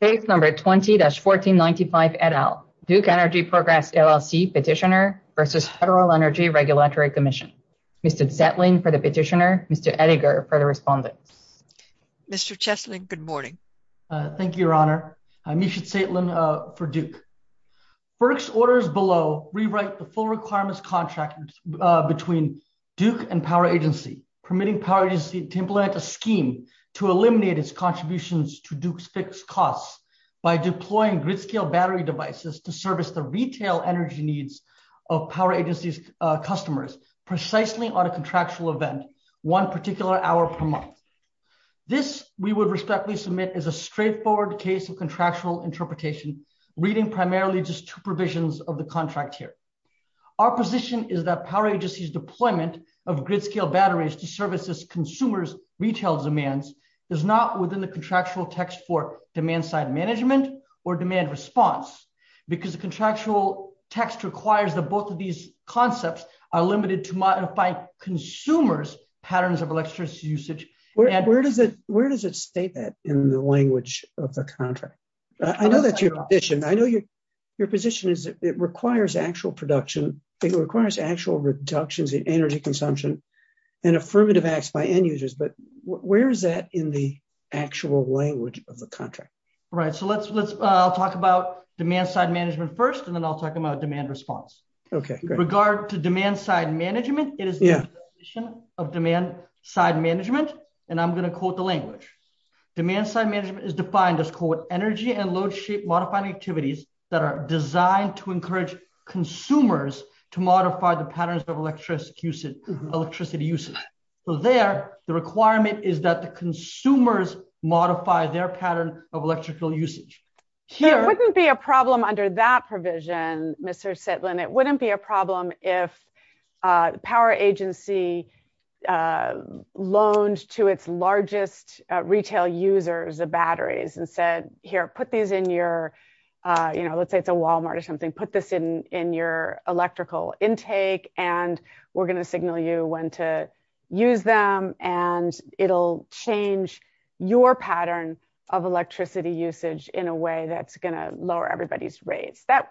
Page number 20-1495 et al. Duke Energy Progress, LLC petitioner versus Federal Energy Regulatory Commission. Mr. Zetlin for the petitioner, Mr. Edinger for the respondent. Mr. Cheslin, good morning. Thank you, Your Honor. I'm Misha Zetlin for Duke. FERC's orders below rewrite the full requirements contract between Duke and Power Agency, permitting Power Agency to implement a scheme to eliminate its contributions to Duke's fixed costs by deploying grid scale battery devices to service the retail energy needs of Power Agency's customers precisely on a contractual event, one particular hour per month. This we would respectfully submit as a straightforward case of contractual interpretation, reading primarily just two provisions of the contract here. Our position is that Power Agency's deployment of grid scale batteries to services consumers' retail demands is not within the contractual text for demand side management or demand response because the contractual text requires that both of these concepts are limited to modify consumers' patterns of electricity usage. Where does it state that in the language of the contract? I know that's your position. I know your position is that it requires actual production. It requires actual reductions in energy consumption. And affirmative acts by end users, but where is that in the actual language of the contract? Right, so I'll talk about demand side management first, and then I'll talk about demand response. Okay, great. With regard to demand side management, it is the definition of demand side management, and I'm gonna quote the language. Demand side management is defined as quote, energy and load shape modifying activities that are designed to encourage consumers to modify the patterns of electricity usage. So there, the requirement is that the consumers modify their pattern of electrical usage. Here- There wouldn't be a problem under that provision, Mr. Sitlin. It wouldn't be a problem if Power Agency loaned to its largest retail users the batteries and said, here, put these in your, let's say it's a Walmart or something, put this in your electrical intake, and we're gonna signal you when to use them, and it'll change your pattern of electricity usage in a way that's gonna lower everybody's rates. That's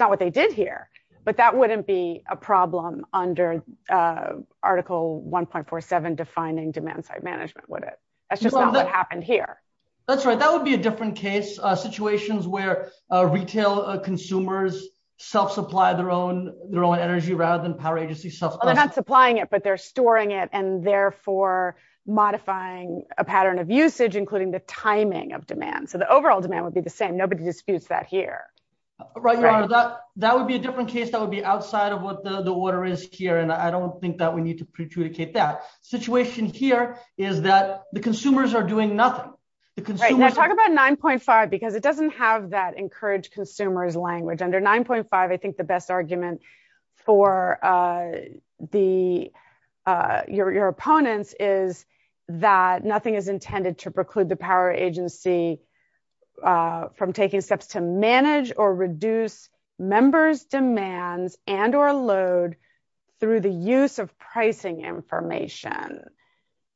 not what they did here, but that wouldn't be a problem under Article 1.47 defining demand side management, would it? That's just not what happened here. That's right, that would be a different case. Situations where retail consumers self-supply their own energy rather than Power Agency self-supply- They're not supplying it, but they're storing it, and therefore modifying a pattern of usage, including the timing of demand. So the overall demand would be the same. Nobody disputes that here. Right, Your Honor, that would be a different case. That would be outside of what the order is here, and I don't think that we need to prejudicate that. Situation here is that the consumers are doing nothing. The consumers- Right, now talk about 9.5, because it doesn't have that encourage consumers language. Under 9.5, I think the best argument for your opponents is that nothing is intended to preclude the Power Agency from taking steps to manage or reduce members' demands and or load through the use of pricing information.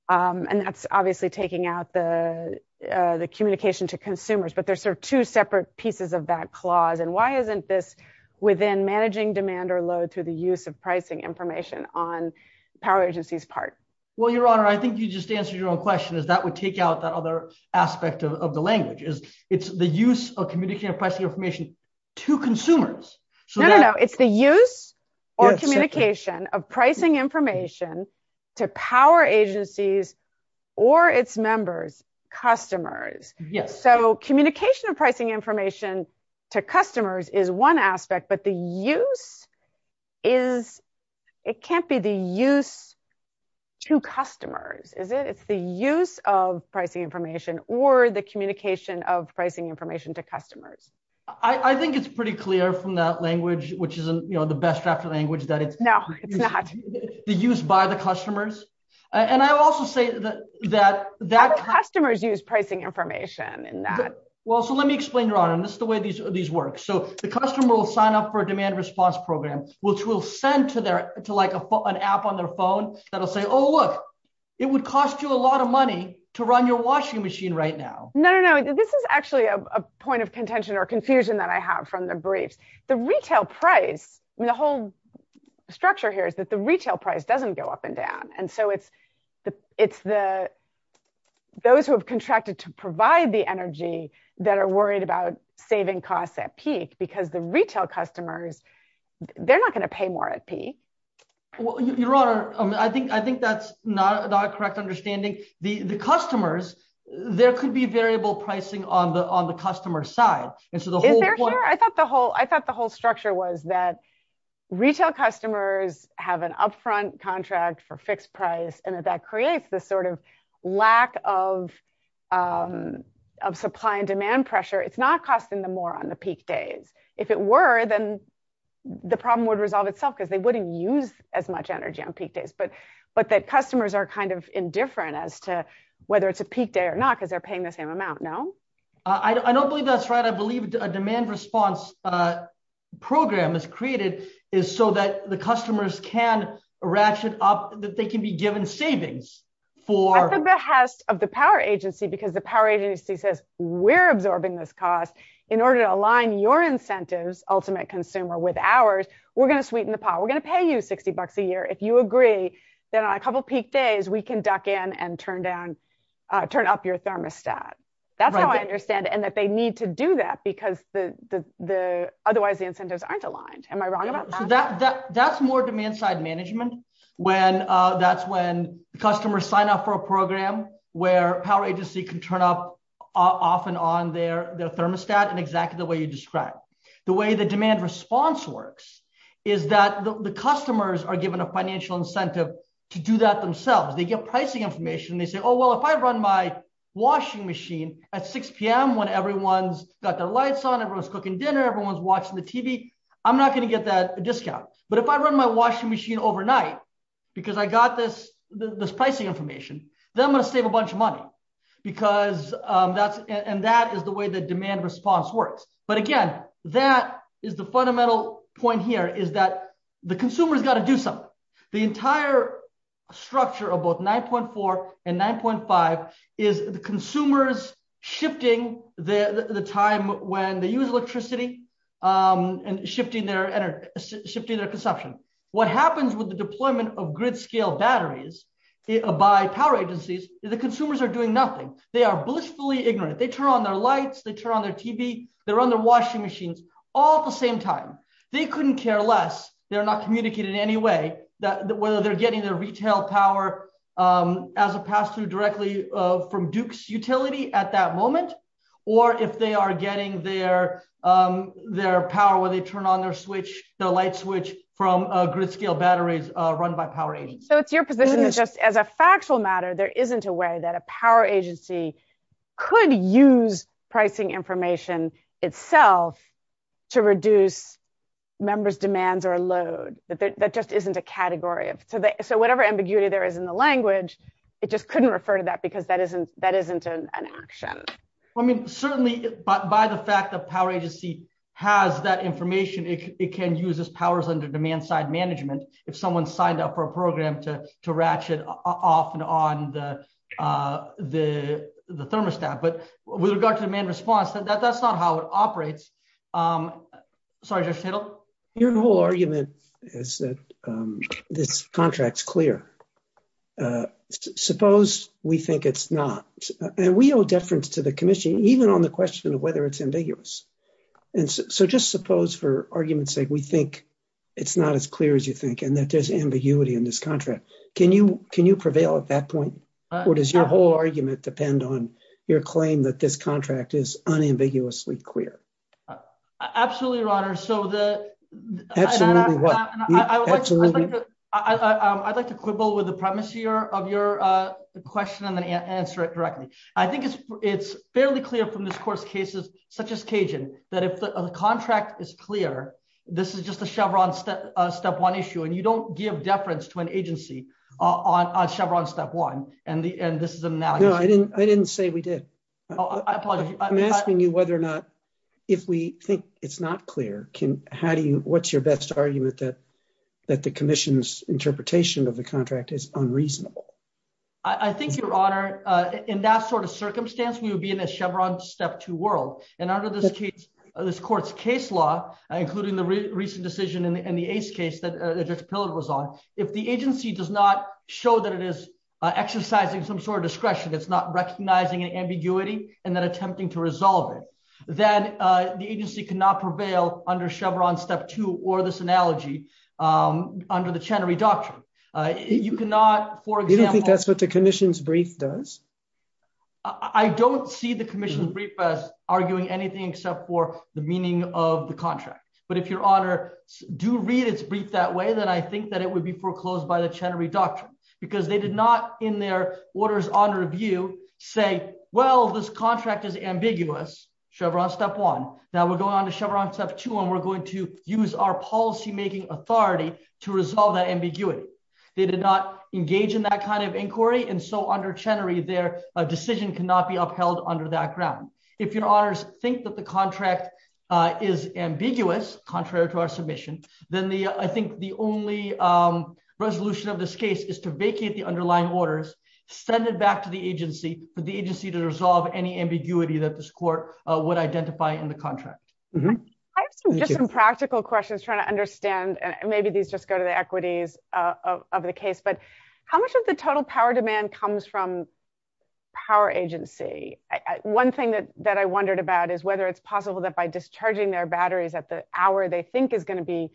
And that's obviously taking out the communication to consumers, but there's sort of two separate pieces of that clause. And why isn't this within managing demand or load through the use of pricing information on Power Agency's part? Well, Your Honor, I think you just answered your own question, is that would take out that other aspect of the language. It's the use of communicating pricing information to consumers. So that- No, no, no. It's the use or communication of pricing information to Power Agencies or its members, customers. Yes. So communication of pricing information to customers is one aspect, but the use is, it can't be the use to customers, is it? It's the use of pricing information or the communication of pricing information to customers. I think it's pretty clear from that language, which isn't the best draft of language, that it's- No, it's not. The use by the customers. And I will also say that- How do customers use pricing information in that? Well, so let me explain, Your Honor, and this is the way these work. So the customer will sign up for a demand response program, which will send to like an app on their phone that'll say, oh, look, it would cost you a lot of money to run your washing machine right now. No, no, no. This is actually a point of contention or confusion that I have from the briefs. The retail price, I mean, the whole structure here is that the retail price doesn't go up and down. And so it's those who have contracted to provide the energy that are worried about saving costs at peak because the retail customers, they're not gonna pay more at peak. Well, Your Honor, I think that's not a correct understanding. The customers, there could be variable pricing on the customer side. And so the whole point- Is there here? I thought the whole structure was that they have an upfront contract for fixed price and that that creates this sort of lack of supply and demand pressure. It's not costing them more on the peak days. If it were, then the problem would resolve itself because they wouldn't use as much energy on peak days. But that customers are kind of indifferent as to whether it's a peak day or not because they're paying the same amount, no? I don't believe that's right. I believe a demand response program is created is so that the customers can ratchet up, that they can be given savings for- At the behest of the power agency, because the power agency says we're absorbing this cost in order to align your incentives, ultimate consumer with ours, we're gonna sweeten the pot. We're gonna pay you 60 bucks a year. If you agree, then on a couple of peak days, we can duck in and turn up your thermostat. That's how I understand it. And that they need to do that because otherwise the incentives aren't aligned. Am I wrong about that? That's more demand side management. That's when customers sign up for a program where power agency can turn up off and on their thermostat in exactly the way you described. The way the demand response works is that the customers are given a financial incentive to do that themselves. They get pricing information. They say, oh, well, if I run my washing machine at 6 p.m. when everyone's got their lights on, everyone's cooking dinner, everyone's watching the TV, I'm not gonna get that discount. But if I run my washing machine overnight because I got this pricing information, then I'm gonna save a bunch of money because that's, and that is the way the demand response works. But again, that is the fundamental point here is that the consumer has got to do something. The entire structure of both 9.4 and 9.5 is the consumers shifting the time when they use electricity and shifting their consumption. What happens with the deployment of grid scale batteries by power agencies is the consumers are doing nothing. They are blissfully ignorant. They turn on their lights, they turn on their TV, they run their washing machines all at the same time. They couldn't care less. They're not communicating in any way that whether they're getting their retail power as a pass-through directly from Duke's utility at that moment, or if they are getting their power when they turn on their switch, the light switch from a grid scale batteries run by power agencies. So it's your position that just as a factual matter, there isn't a way that a power agency could use pricing information itself to reduce members' demands or a load. That just isn't a category of, so whatever ambiguity there is in the language, it just couldn't refer to that because that isn't an action. Certainly, by the fact that power agency has that information, it can use its powers under demand side management if someone signed up for a program to ratchet off and on the thermostat. But with regard to demand response, that's not how it operates. Sorry, Judge Tittle. Your whole argument is that this contract's clear. Suppose we think it's not. And we owe deference to the commission even on the question of whether it's ambiguous. And so just suppose for argument's sake, we think it's not as clear as you think, and that there's ambiguity in this contract. Can you prevail at that point? Or does your whole argument depend on your claim that this contract is unambiguously clear? Absolutely, Your Honor. So I'd like to quibble with the premise of your question and then answer it directly. I think it's fairly clear from this court's cases, such as Cajun, that if the contract is clear, this is just a Chevron step one issue, and you don't give deference to an agency on Chevron step one, and this is an analogy. I didn't say we did. Oh, I apologize. I'm asking you whether or not, if we think it's not clear, what's your best argument that the commission's interpretation of the contract is unreasonable? I think, Your Honor, in that sort of circumstance, we would be in a Chevron step two world. And under this case, this court's case law, including the recent decision in the Ace case that Judge Pillard was on, if the agency does not show that it is exercising some sort of discretion, it's not recognizing an ambiguity and then attempting to resolve it, then the agency cannot prevail under Chevron step two or this analogy under the Chenery Doctrine. You cannot, for example- You don't think that's what the commission's brief does? I don't see the commission's brief as arguing anything except for the meaning of the contract. But if, Your Honor, do read its brief that way, then I think that it would be foreclosed by the Chenery Doctrine, because they did not, in their order's honor of view, say, well, this contract is ambiguous, Chevron step one. Now we're going on to Chevron step two, and we're going to use our policymaking authority to resolve that ambiguity. They did not engage in that kind of inquiry, and so under Chenery, their decision cannot be upheld under that ground. If, Your Honors, think that the contract is ambiguous, contrary to our submission, then I think the only resolution of this case is to vacate the underlying orders, send it back to the agency, for the agency to resolve any ambiguity that this court would identify in the contract. I have just some practical questions, just trying to understand, and maybe these just go to the equities of the case, but how much of the total power demand comes from power agency? One thing that I wondered about is whether it's possible that by discharging their batteries at the hour they think is going to be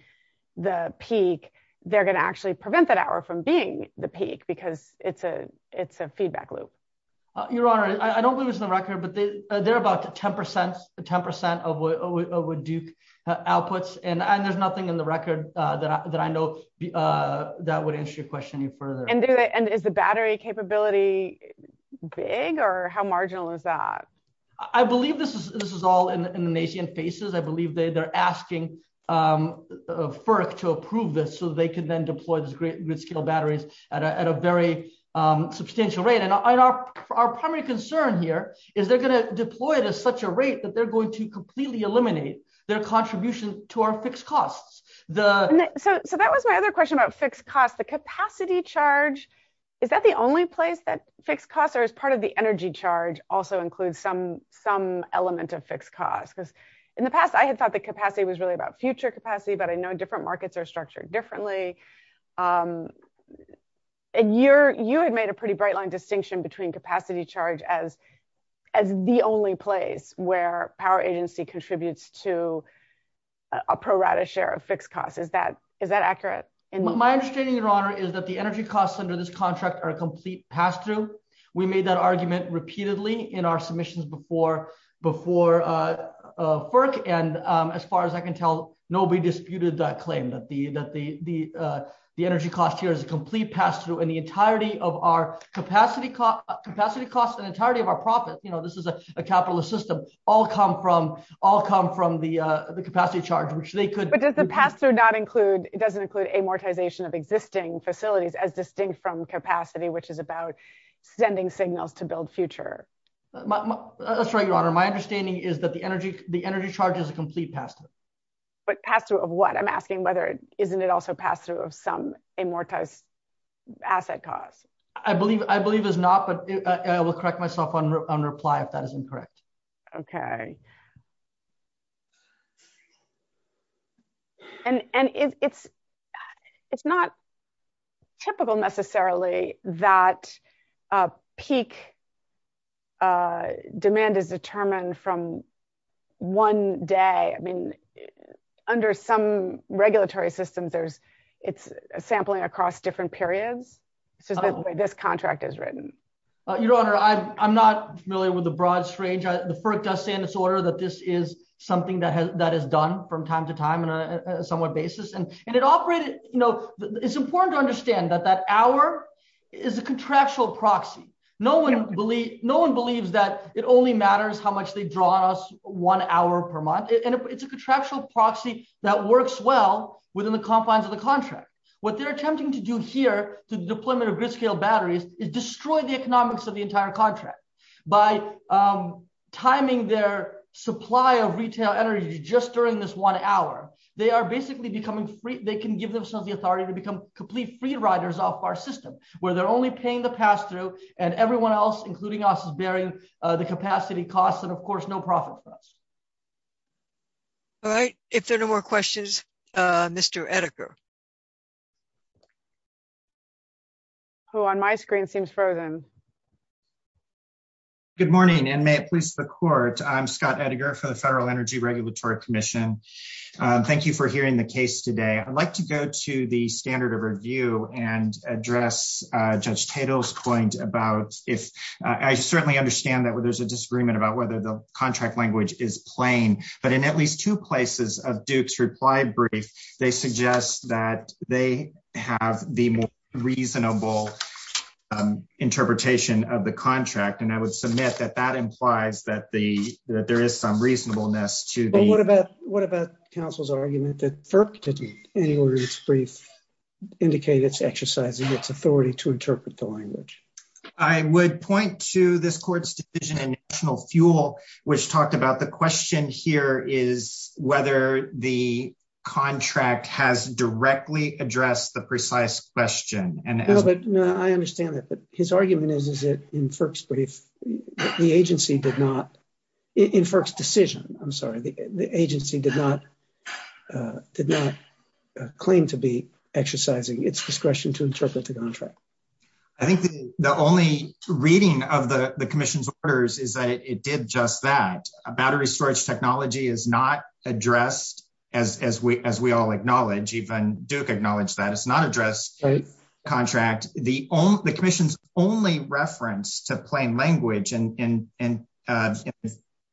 the peak, they're going to actually prevent that hour from being the peak, because it's a feedback loop. Your Honor, I don't believe it's on the record, but they're about 10% of what Duke outputs, and there's nothing in the record that I know that would answer your question any further. And is the battery capability big, or how marginal is that? I believe this is all in the nascent phases. I believe they're asking FERC to approve this so that they can then deploy these grid-scale batteries at a very substantial rate. And our primary concern here is they're going to deploy it at such a rate that they're going to completely eliminate their contribution to our fixed costs. So that was my other question about fixed costs. The capacity charge, is that the only place that fixed costs, or is part of the energy charge also includes some element of fixed costs? Because in the past, I had thought that capacity was really about future capacity, but I know different markets are structured differently. And you had made a pretty bright line distinction between capacity charge as the only place where power agency contributes to a pro-rata share of fixed costs. Is that accurate? My understanding, Your Honor, is that the energy costs under this contract are a complete pass-through. We made that argument repeatedly in our submissions before FERC. And as far as I can tell, nobody disputed that claim, that the energy cost here is a complete pass-through in the entirety of our capacity costs and entirety of our profits. This is a capitalist system. All come from the capacity charge, which they could- But does the pass-through not include, it doesn't include amortization of existing facilities as distinct from capacity, which is about sending signals to build future? That's right, Your Honor. My understanding is that the energy charge is a complete pass-through. But pass-through of what? I'm asking whether, isn't it also pass-through of some amortized asset costs? I believe it's not, but I will correct myself on reply if that is incorrect. Okay. And it's not typical necessarily that peak demand is determined from one day. I mean, under some regulatory systems, it's sampling across different periods. This is the way this contract is written. Your Honor, I'm not familiar with the broad strange. The FERC does say in its order that this is something that is done from time to time on a somewhat basis. And it operated, you know, it's important to understand that that hour is a contractual proxy. No one believes that it only matters how much they draw on us one hour per month. And it's a contractual proxy that works well within the confines of the contract. What they're attempting to do here to the deployment of gridscale batteries is destroy the economics of the entire contract by timing their supply of retail energy just during this one hour. They are basically becoming free. They can give themselves the authority to become complete free riders off our system where they're only paying the pass-through and everyone else, including us, is bearing the capacity costs and of course, no profit for us. All right. If there are no more questions, Mr. Ettinger. Who on my screen seems frozen. Good morning and may it please the court. I'm Scott Ettinger for the Federal Energy Regulatory Commission. Thank you for hearing the case today. I'd like to go to the standard of review and address Judge Tatel's point about if I certainly understand that there's a disagreement about whether the contract language is plain, but in at least two places of Duke's reply brief, they suggest that they have the more reasonable interpretation of the contract. And I would submit that that implies that there is some reasonableness to the- What about counsel's argument that FERC didn't in any order of its brief indicate it's exercising its authority to interpret the language? I would point to this court's division in national fuel, which talked about the question here is whether the contract has directly addressed the precise question. And as- No, I understand that, but his argument is, is it in FERC's brief, the agency did not, in FERC's decision, I'm sorry, the agency did not claim to be exercising its discretion to interpret the contract. I think the only reading of the commission's orders is that it did just that. Battery storage technology is not addressed as we all acknowledge, even Duke acknowledged that. It's not addressed in the contract. The commission's only reference to plain language in the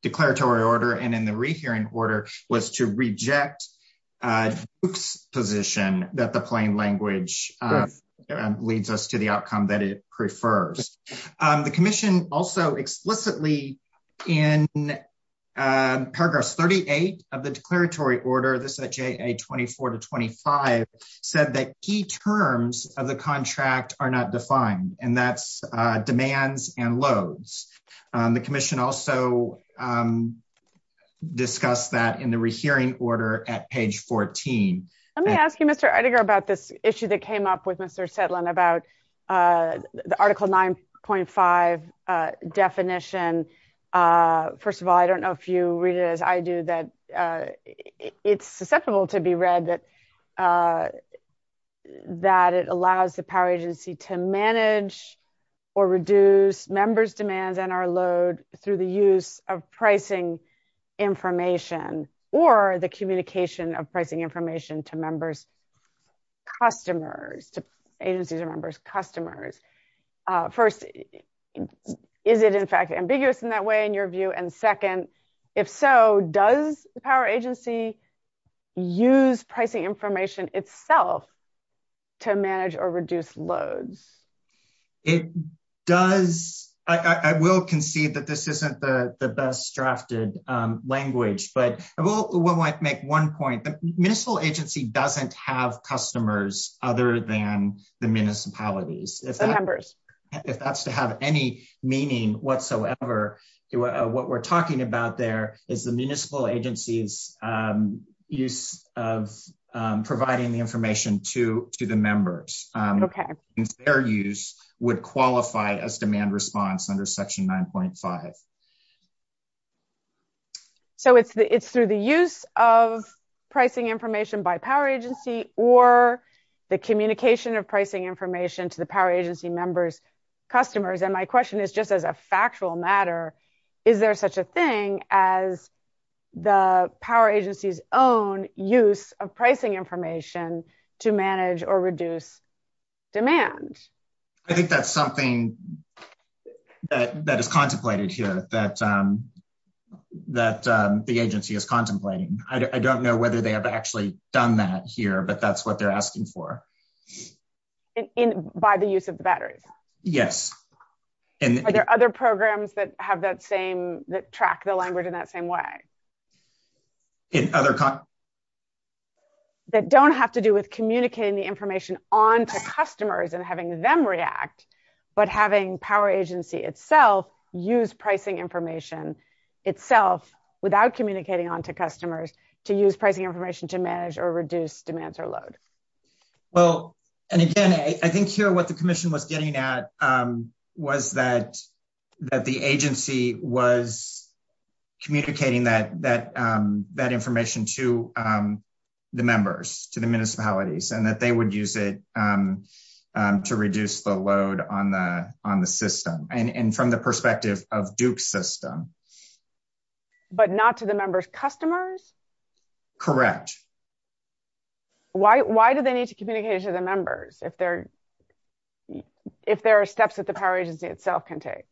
declaratory order and in the rehearing order was to reject Duke's position that the plain language leads us to the outcome that it prefers. The commission also explicitly in paragraph 38 of the declaratory order, this is at JA 24 to 25, said that key terms of the contract are not defined, and that's demands and loads. The commission also discussed that in the rehearing order at page 14. Let me ask you, Mr. Edinger, about this issue that came up with Mr. Settlin about the article 9.5 definition. First of all, I don't know if you read it as I do, that it's susceptible to be read that it allows the power agency to manage or reduce members' demands and our load through the use of pricing information or the communication of pricing information to members' customers, to agencies or members' customers. First, is it in fact ambiguous in that way in your view? And second, if so, does the power agency use pricing information itself to manage or reduce loads? It does. I will concede that this isn't the best drafted language, but I will make one point. The municipal agency doesn't have customers other than the municipalities. The members. If that's to have any meaning whatsoever, what we're talking about there is the municipal agency's use of providing the information to the members. Okay. Their use would qualify as demand response under section 9.5. So it's through the use of pricing information by power agency or the communication of pricing information to the power agency members' customers. And my question is just as a factual matter, is there such a thing as the power agency's own use of pricing information to manage or reduce demand? I think that's something that is contemplated here that the agency is contemplating. I don't know whether they have actually done that here, but that's what they're asking for. By the use of the batteries? Yes. Are there other programs that have that same, that track the language in that same way? That don't have to do with communicating the information onto customers and having them react, but having power agency itself use pricing information itself without communicating onto customers to use pricing information to manage or reduce demands or load. Well, and again, I think here what the commission was getting at was that the agency was communicating that information to the members, to the municipalities, and that they would use it to reduce the load on the system, and from the perspective of Duke's system. But not to the members' customers? Correct. Why do they need to communicate it to the members if there are steps that the power agency itself can take,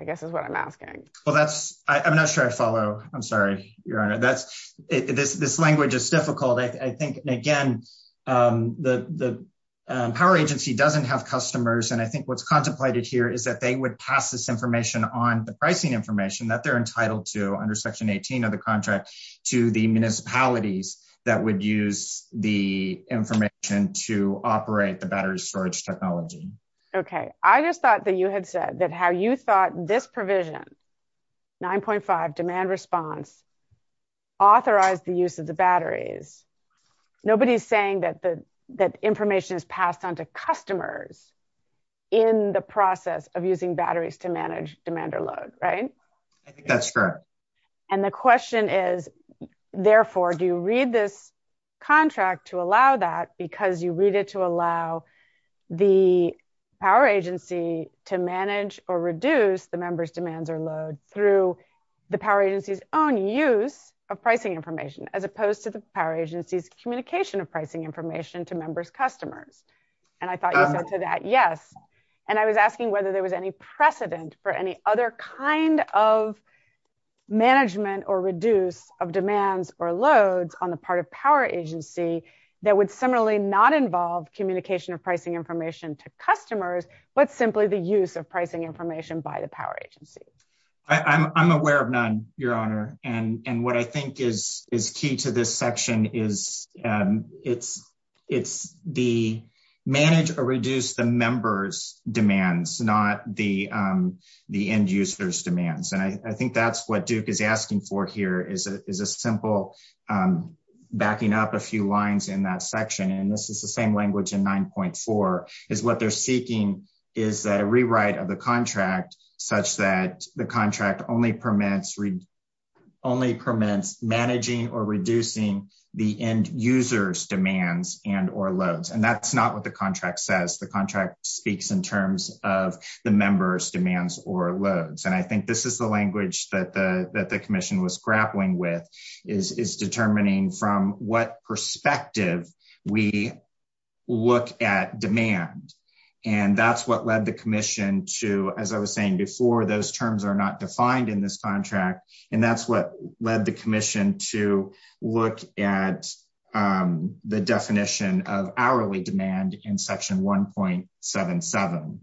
I guess is what I'm asking. Well, that's, I'm not sure I follow. I'm sorry, Your Honor, this language is difficult. I think, again, the power agency doesn't have customers, and I think what's contemplated here is that they would pass this information on the pricing information that they're entitled to under section 18 of the contract to the municipalities that would use the information to operate the battery storage technology. Okay, I just thought that you had said that how you thought this provision, 9.5 demand response, authorized the use of the batteries. Nobody's saying that information is passed on to customers in the process of using batteries to manage demand or load, right? I think that's correct. And the question is, therefore, do you read this contract to allow that because you read it to allow the power agency to manage or reduce the members' demands or load through the power agency's own use of pricing information as opposed to the power agency's communication of pricing information to members' customers? And I thought you said to that, yes. And I was asking whether there was any precedent for any other kind of management or reduce of demands or loads on the part of power agency that would similarly not involve communication of pricing information to customers, but simply the use of pricing information by the power agency. I'm aware of none, your honor. And what I think is key to this section is it's the manage or reduce the members' demands, not the end users' demands. And I think that's what Duke is asking for here is a simple backing up a few lines in that section. And this is the same language in 9.4 is what they're seeking is that a rewrite of the contract such that the contract only permits managing or reducing the end users' demands and or loads. And that's not what the contract says. The contract speaks in terms of the members' demands or loads. And I think this is the language that the commission was grappling with is determining from what perspective we look at demand. And that's what led the commission to, as I was saying before, those terms are not defined in this contract. And that's what led the commission to look at the definition of hourly demand in section 1.77.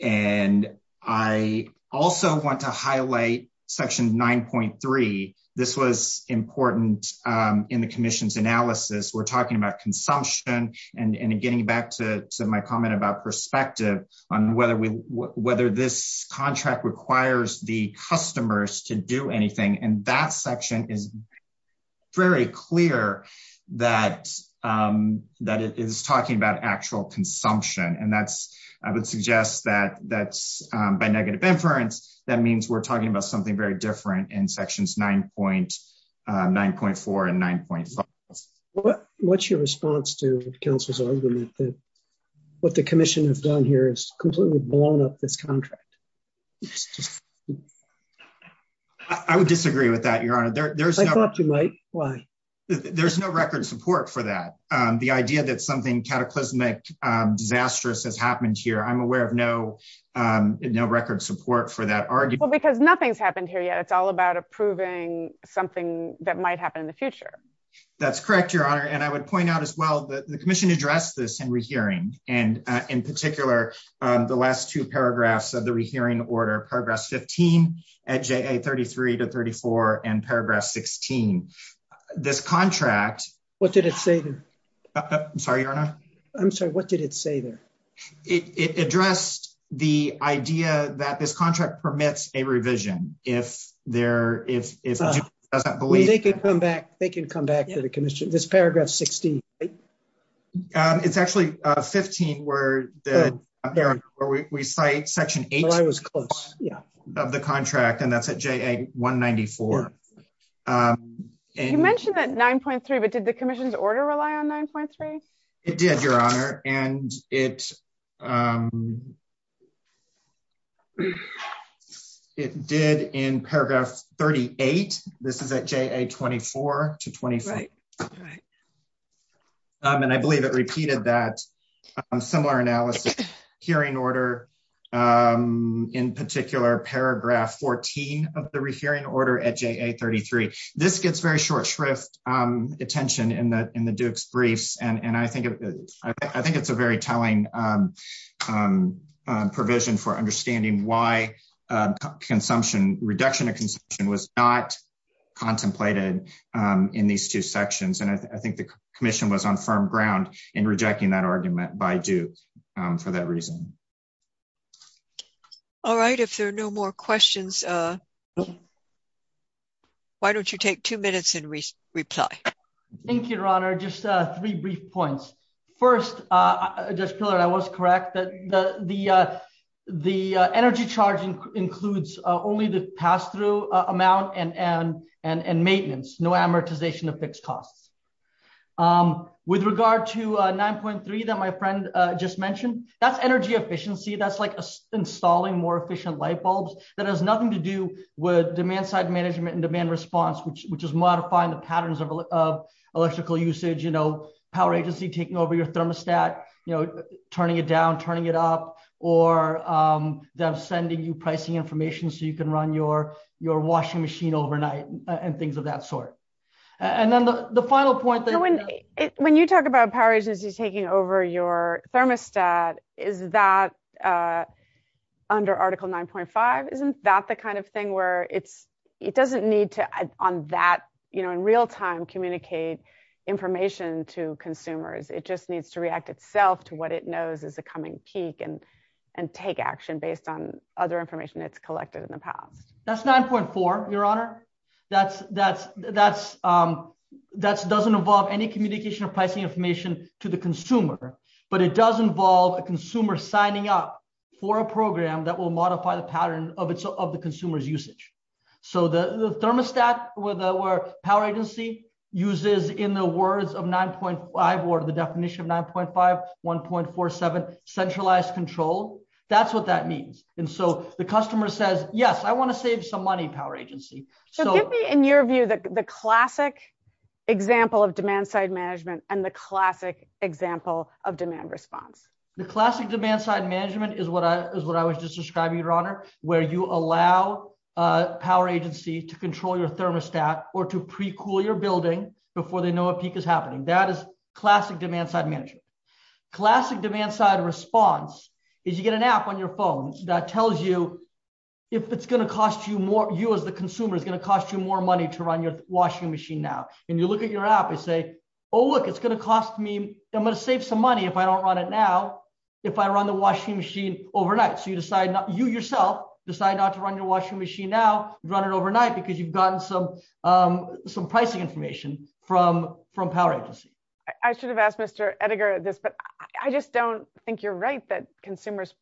And I also want to highlight section 9.3. This was important in the commission's analysis. We're talking about consumption and getting back to my comment about perspective on whether this contract requires the customers to do anything. And that section is very clear that it is talking about actual consumption. And that's, I would suggest that that's by negative inference, that means we're talking about something very different in sections 9.4 and 9.5. What's your response to council's argument that what the commission has done here is completely blown up this contract? I would disagree with that, Your Honor. I thought you might, why? There's no record support for that. The idea that something cataclysmic, disastrous has happened here. I'm aware of no record support for that argument. Well, because nothing's happened here yet. It's all about approving something that might happen in the future. That's correct, Your Honor. And I would point out as well that the commission addressed this in rehearing and in particular, the last two paragraphs of the rehearing order, paragraph 15 at JA 33 to 34 and paragraph 16. This contract- What did it say there? I'm sorry, Your Honor. I'm sorry, what did it say there? It addressed the idea that this contract permits a revision if there, if it doesn't believe- They can come back to the commission. This paragraph 16, right? It's actually 15 where we cite section 18- Well, I was close, yeah. Of the contract, and that's at JA 194. You mentioned that 9.3, but did the commission's order rely on 9.3? It did, Your Honor. And it did in paragraph 38. This is at JA 24 to 25. And I believe it repeated that similar analysis. Hearing order, in particular, paragraph 14 of the rehearing order at JA 33. This gets very short shrift attention in the Duke's briefs. And I think it's a very telling provision for understanding why consumption, the reduction of consumption was not contemplated in these two sections. And I think the commission was on firm ground in rejecting that argument by Duke for that reason. All right, if there are no more questions, why don't you take two minutes and reply? Thank you, Your Honor. Just three brief points. First, Judge Pillard, I was correct that the energy charge includes only the pass-through amount and maintenance, no amortization of fixed costs. With regard to 9.3 that my friend just mentioned, that's energy efficiency. That's like installing more efficient light bulbs that has nothing to do with demand-side management and demand response, which is modifying the patterns of electrical usage, power agency taking over your thermostat, turning it down, turning it up, or they're sending you pricing information so you can run your washing machine overnight and things of that sort. And then the final point that- When you talk about power agencies taking over your thermostat, is that under Article 9.5? Isn't that the kind of thing where it doesn't need to, on that, in real time, communicate information to consumers? It just needs to react itself to what it knows is a coming peak and take action based on other information it's collected in the past. That's 9.4, Your Honor. That doesn't involve any communication or pricing information to the consumer, but it does involve a consumer signing up for a program that will modify the pattern of the consumer's usage. So the thermostat where power agency uses in the words of 9.5, or the definition of 9.5, 1.47, centralized control, that's what that means. And so the customer says, yes, I want to save some money, power agency. So- So give me, in your view, the classic example of demand-side management and the classic example of demand response. The classic demand-side management is what I was just describing, Your Honor, where you allow a power agency to control your thermostat or to pre-cool your building before they know a peak is happening. That is classic demand-side management. Classic demand-side response is you get an app on your phone that tells you if it's going to cost you more, you as the consumer is going to cost you more money to run your washing machine now. And you look at your app and say, oh, look, it's going to cost me, I'm going to save some money if I don't run it now if I run the washing machine overnight. So you decide, you yourself decide not to run your washing machine now, run it overnight because you've gotten some pricing information from power agency. I should have asked Mr. Ettinger this, but I just don't think you're right that consumers'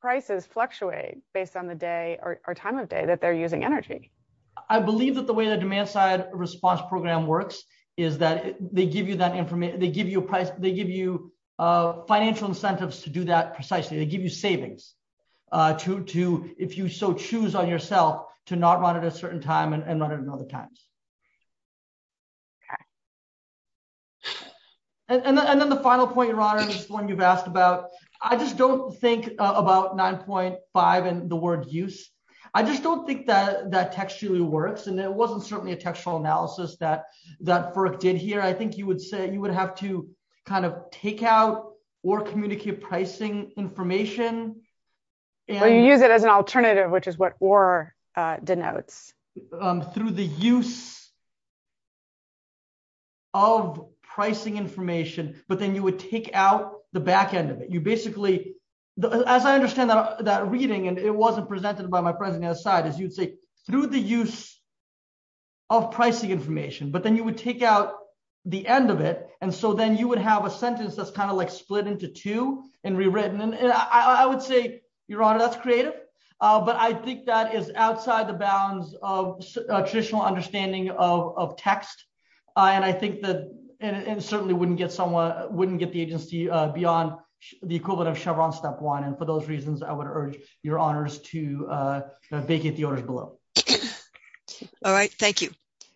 prices fluctuate based on the day or time of day that they're using energy. I believe that the way the demand-side response program works is that they give you financial incentives to do that precisely. They give you savings to, if you so choose on yourself, to not run it at a certain time and run it at other times. Okay. And then the final point, Rana, is one you've asked about. I just don't think about 9.5 and the word use. I just don't think that textually works. And it wasn't certainly a textual analysis that FERC did here. I think you would say you would have to kind of take out or communicate pricing information. Well, you use it as an alternative, which is what or denotes. Through the use of pricing information, but then you would take out the back end of it. You basically, as I understand that reading, and it wasn't presented by my friends on the other side, is you'd say through the use of pricing information, but then you would take out the end of it. And so then you would have a sentence that's kind of like split into two and rewritten. And I would say, Your Honor, that's creative, but I think that is outside the bounds of traditional understanding of text. And I think that, and certainly wouldn't get someone, wouldn't get the agency beyond the equivalent of Chevron step one. And for those reasons, I would urge Your Honors to vacate the orders below. All right, thank you.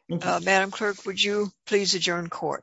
Madam Clerk, would you please adjourn court?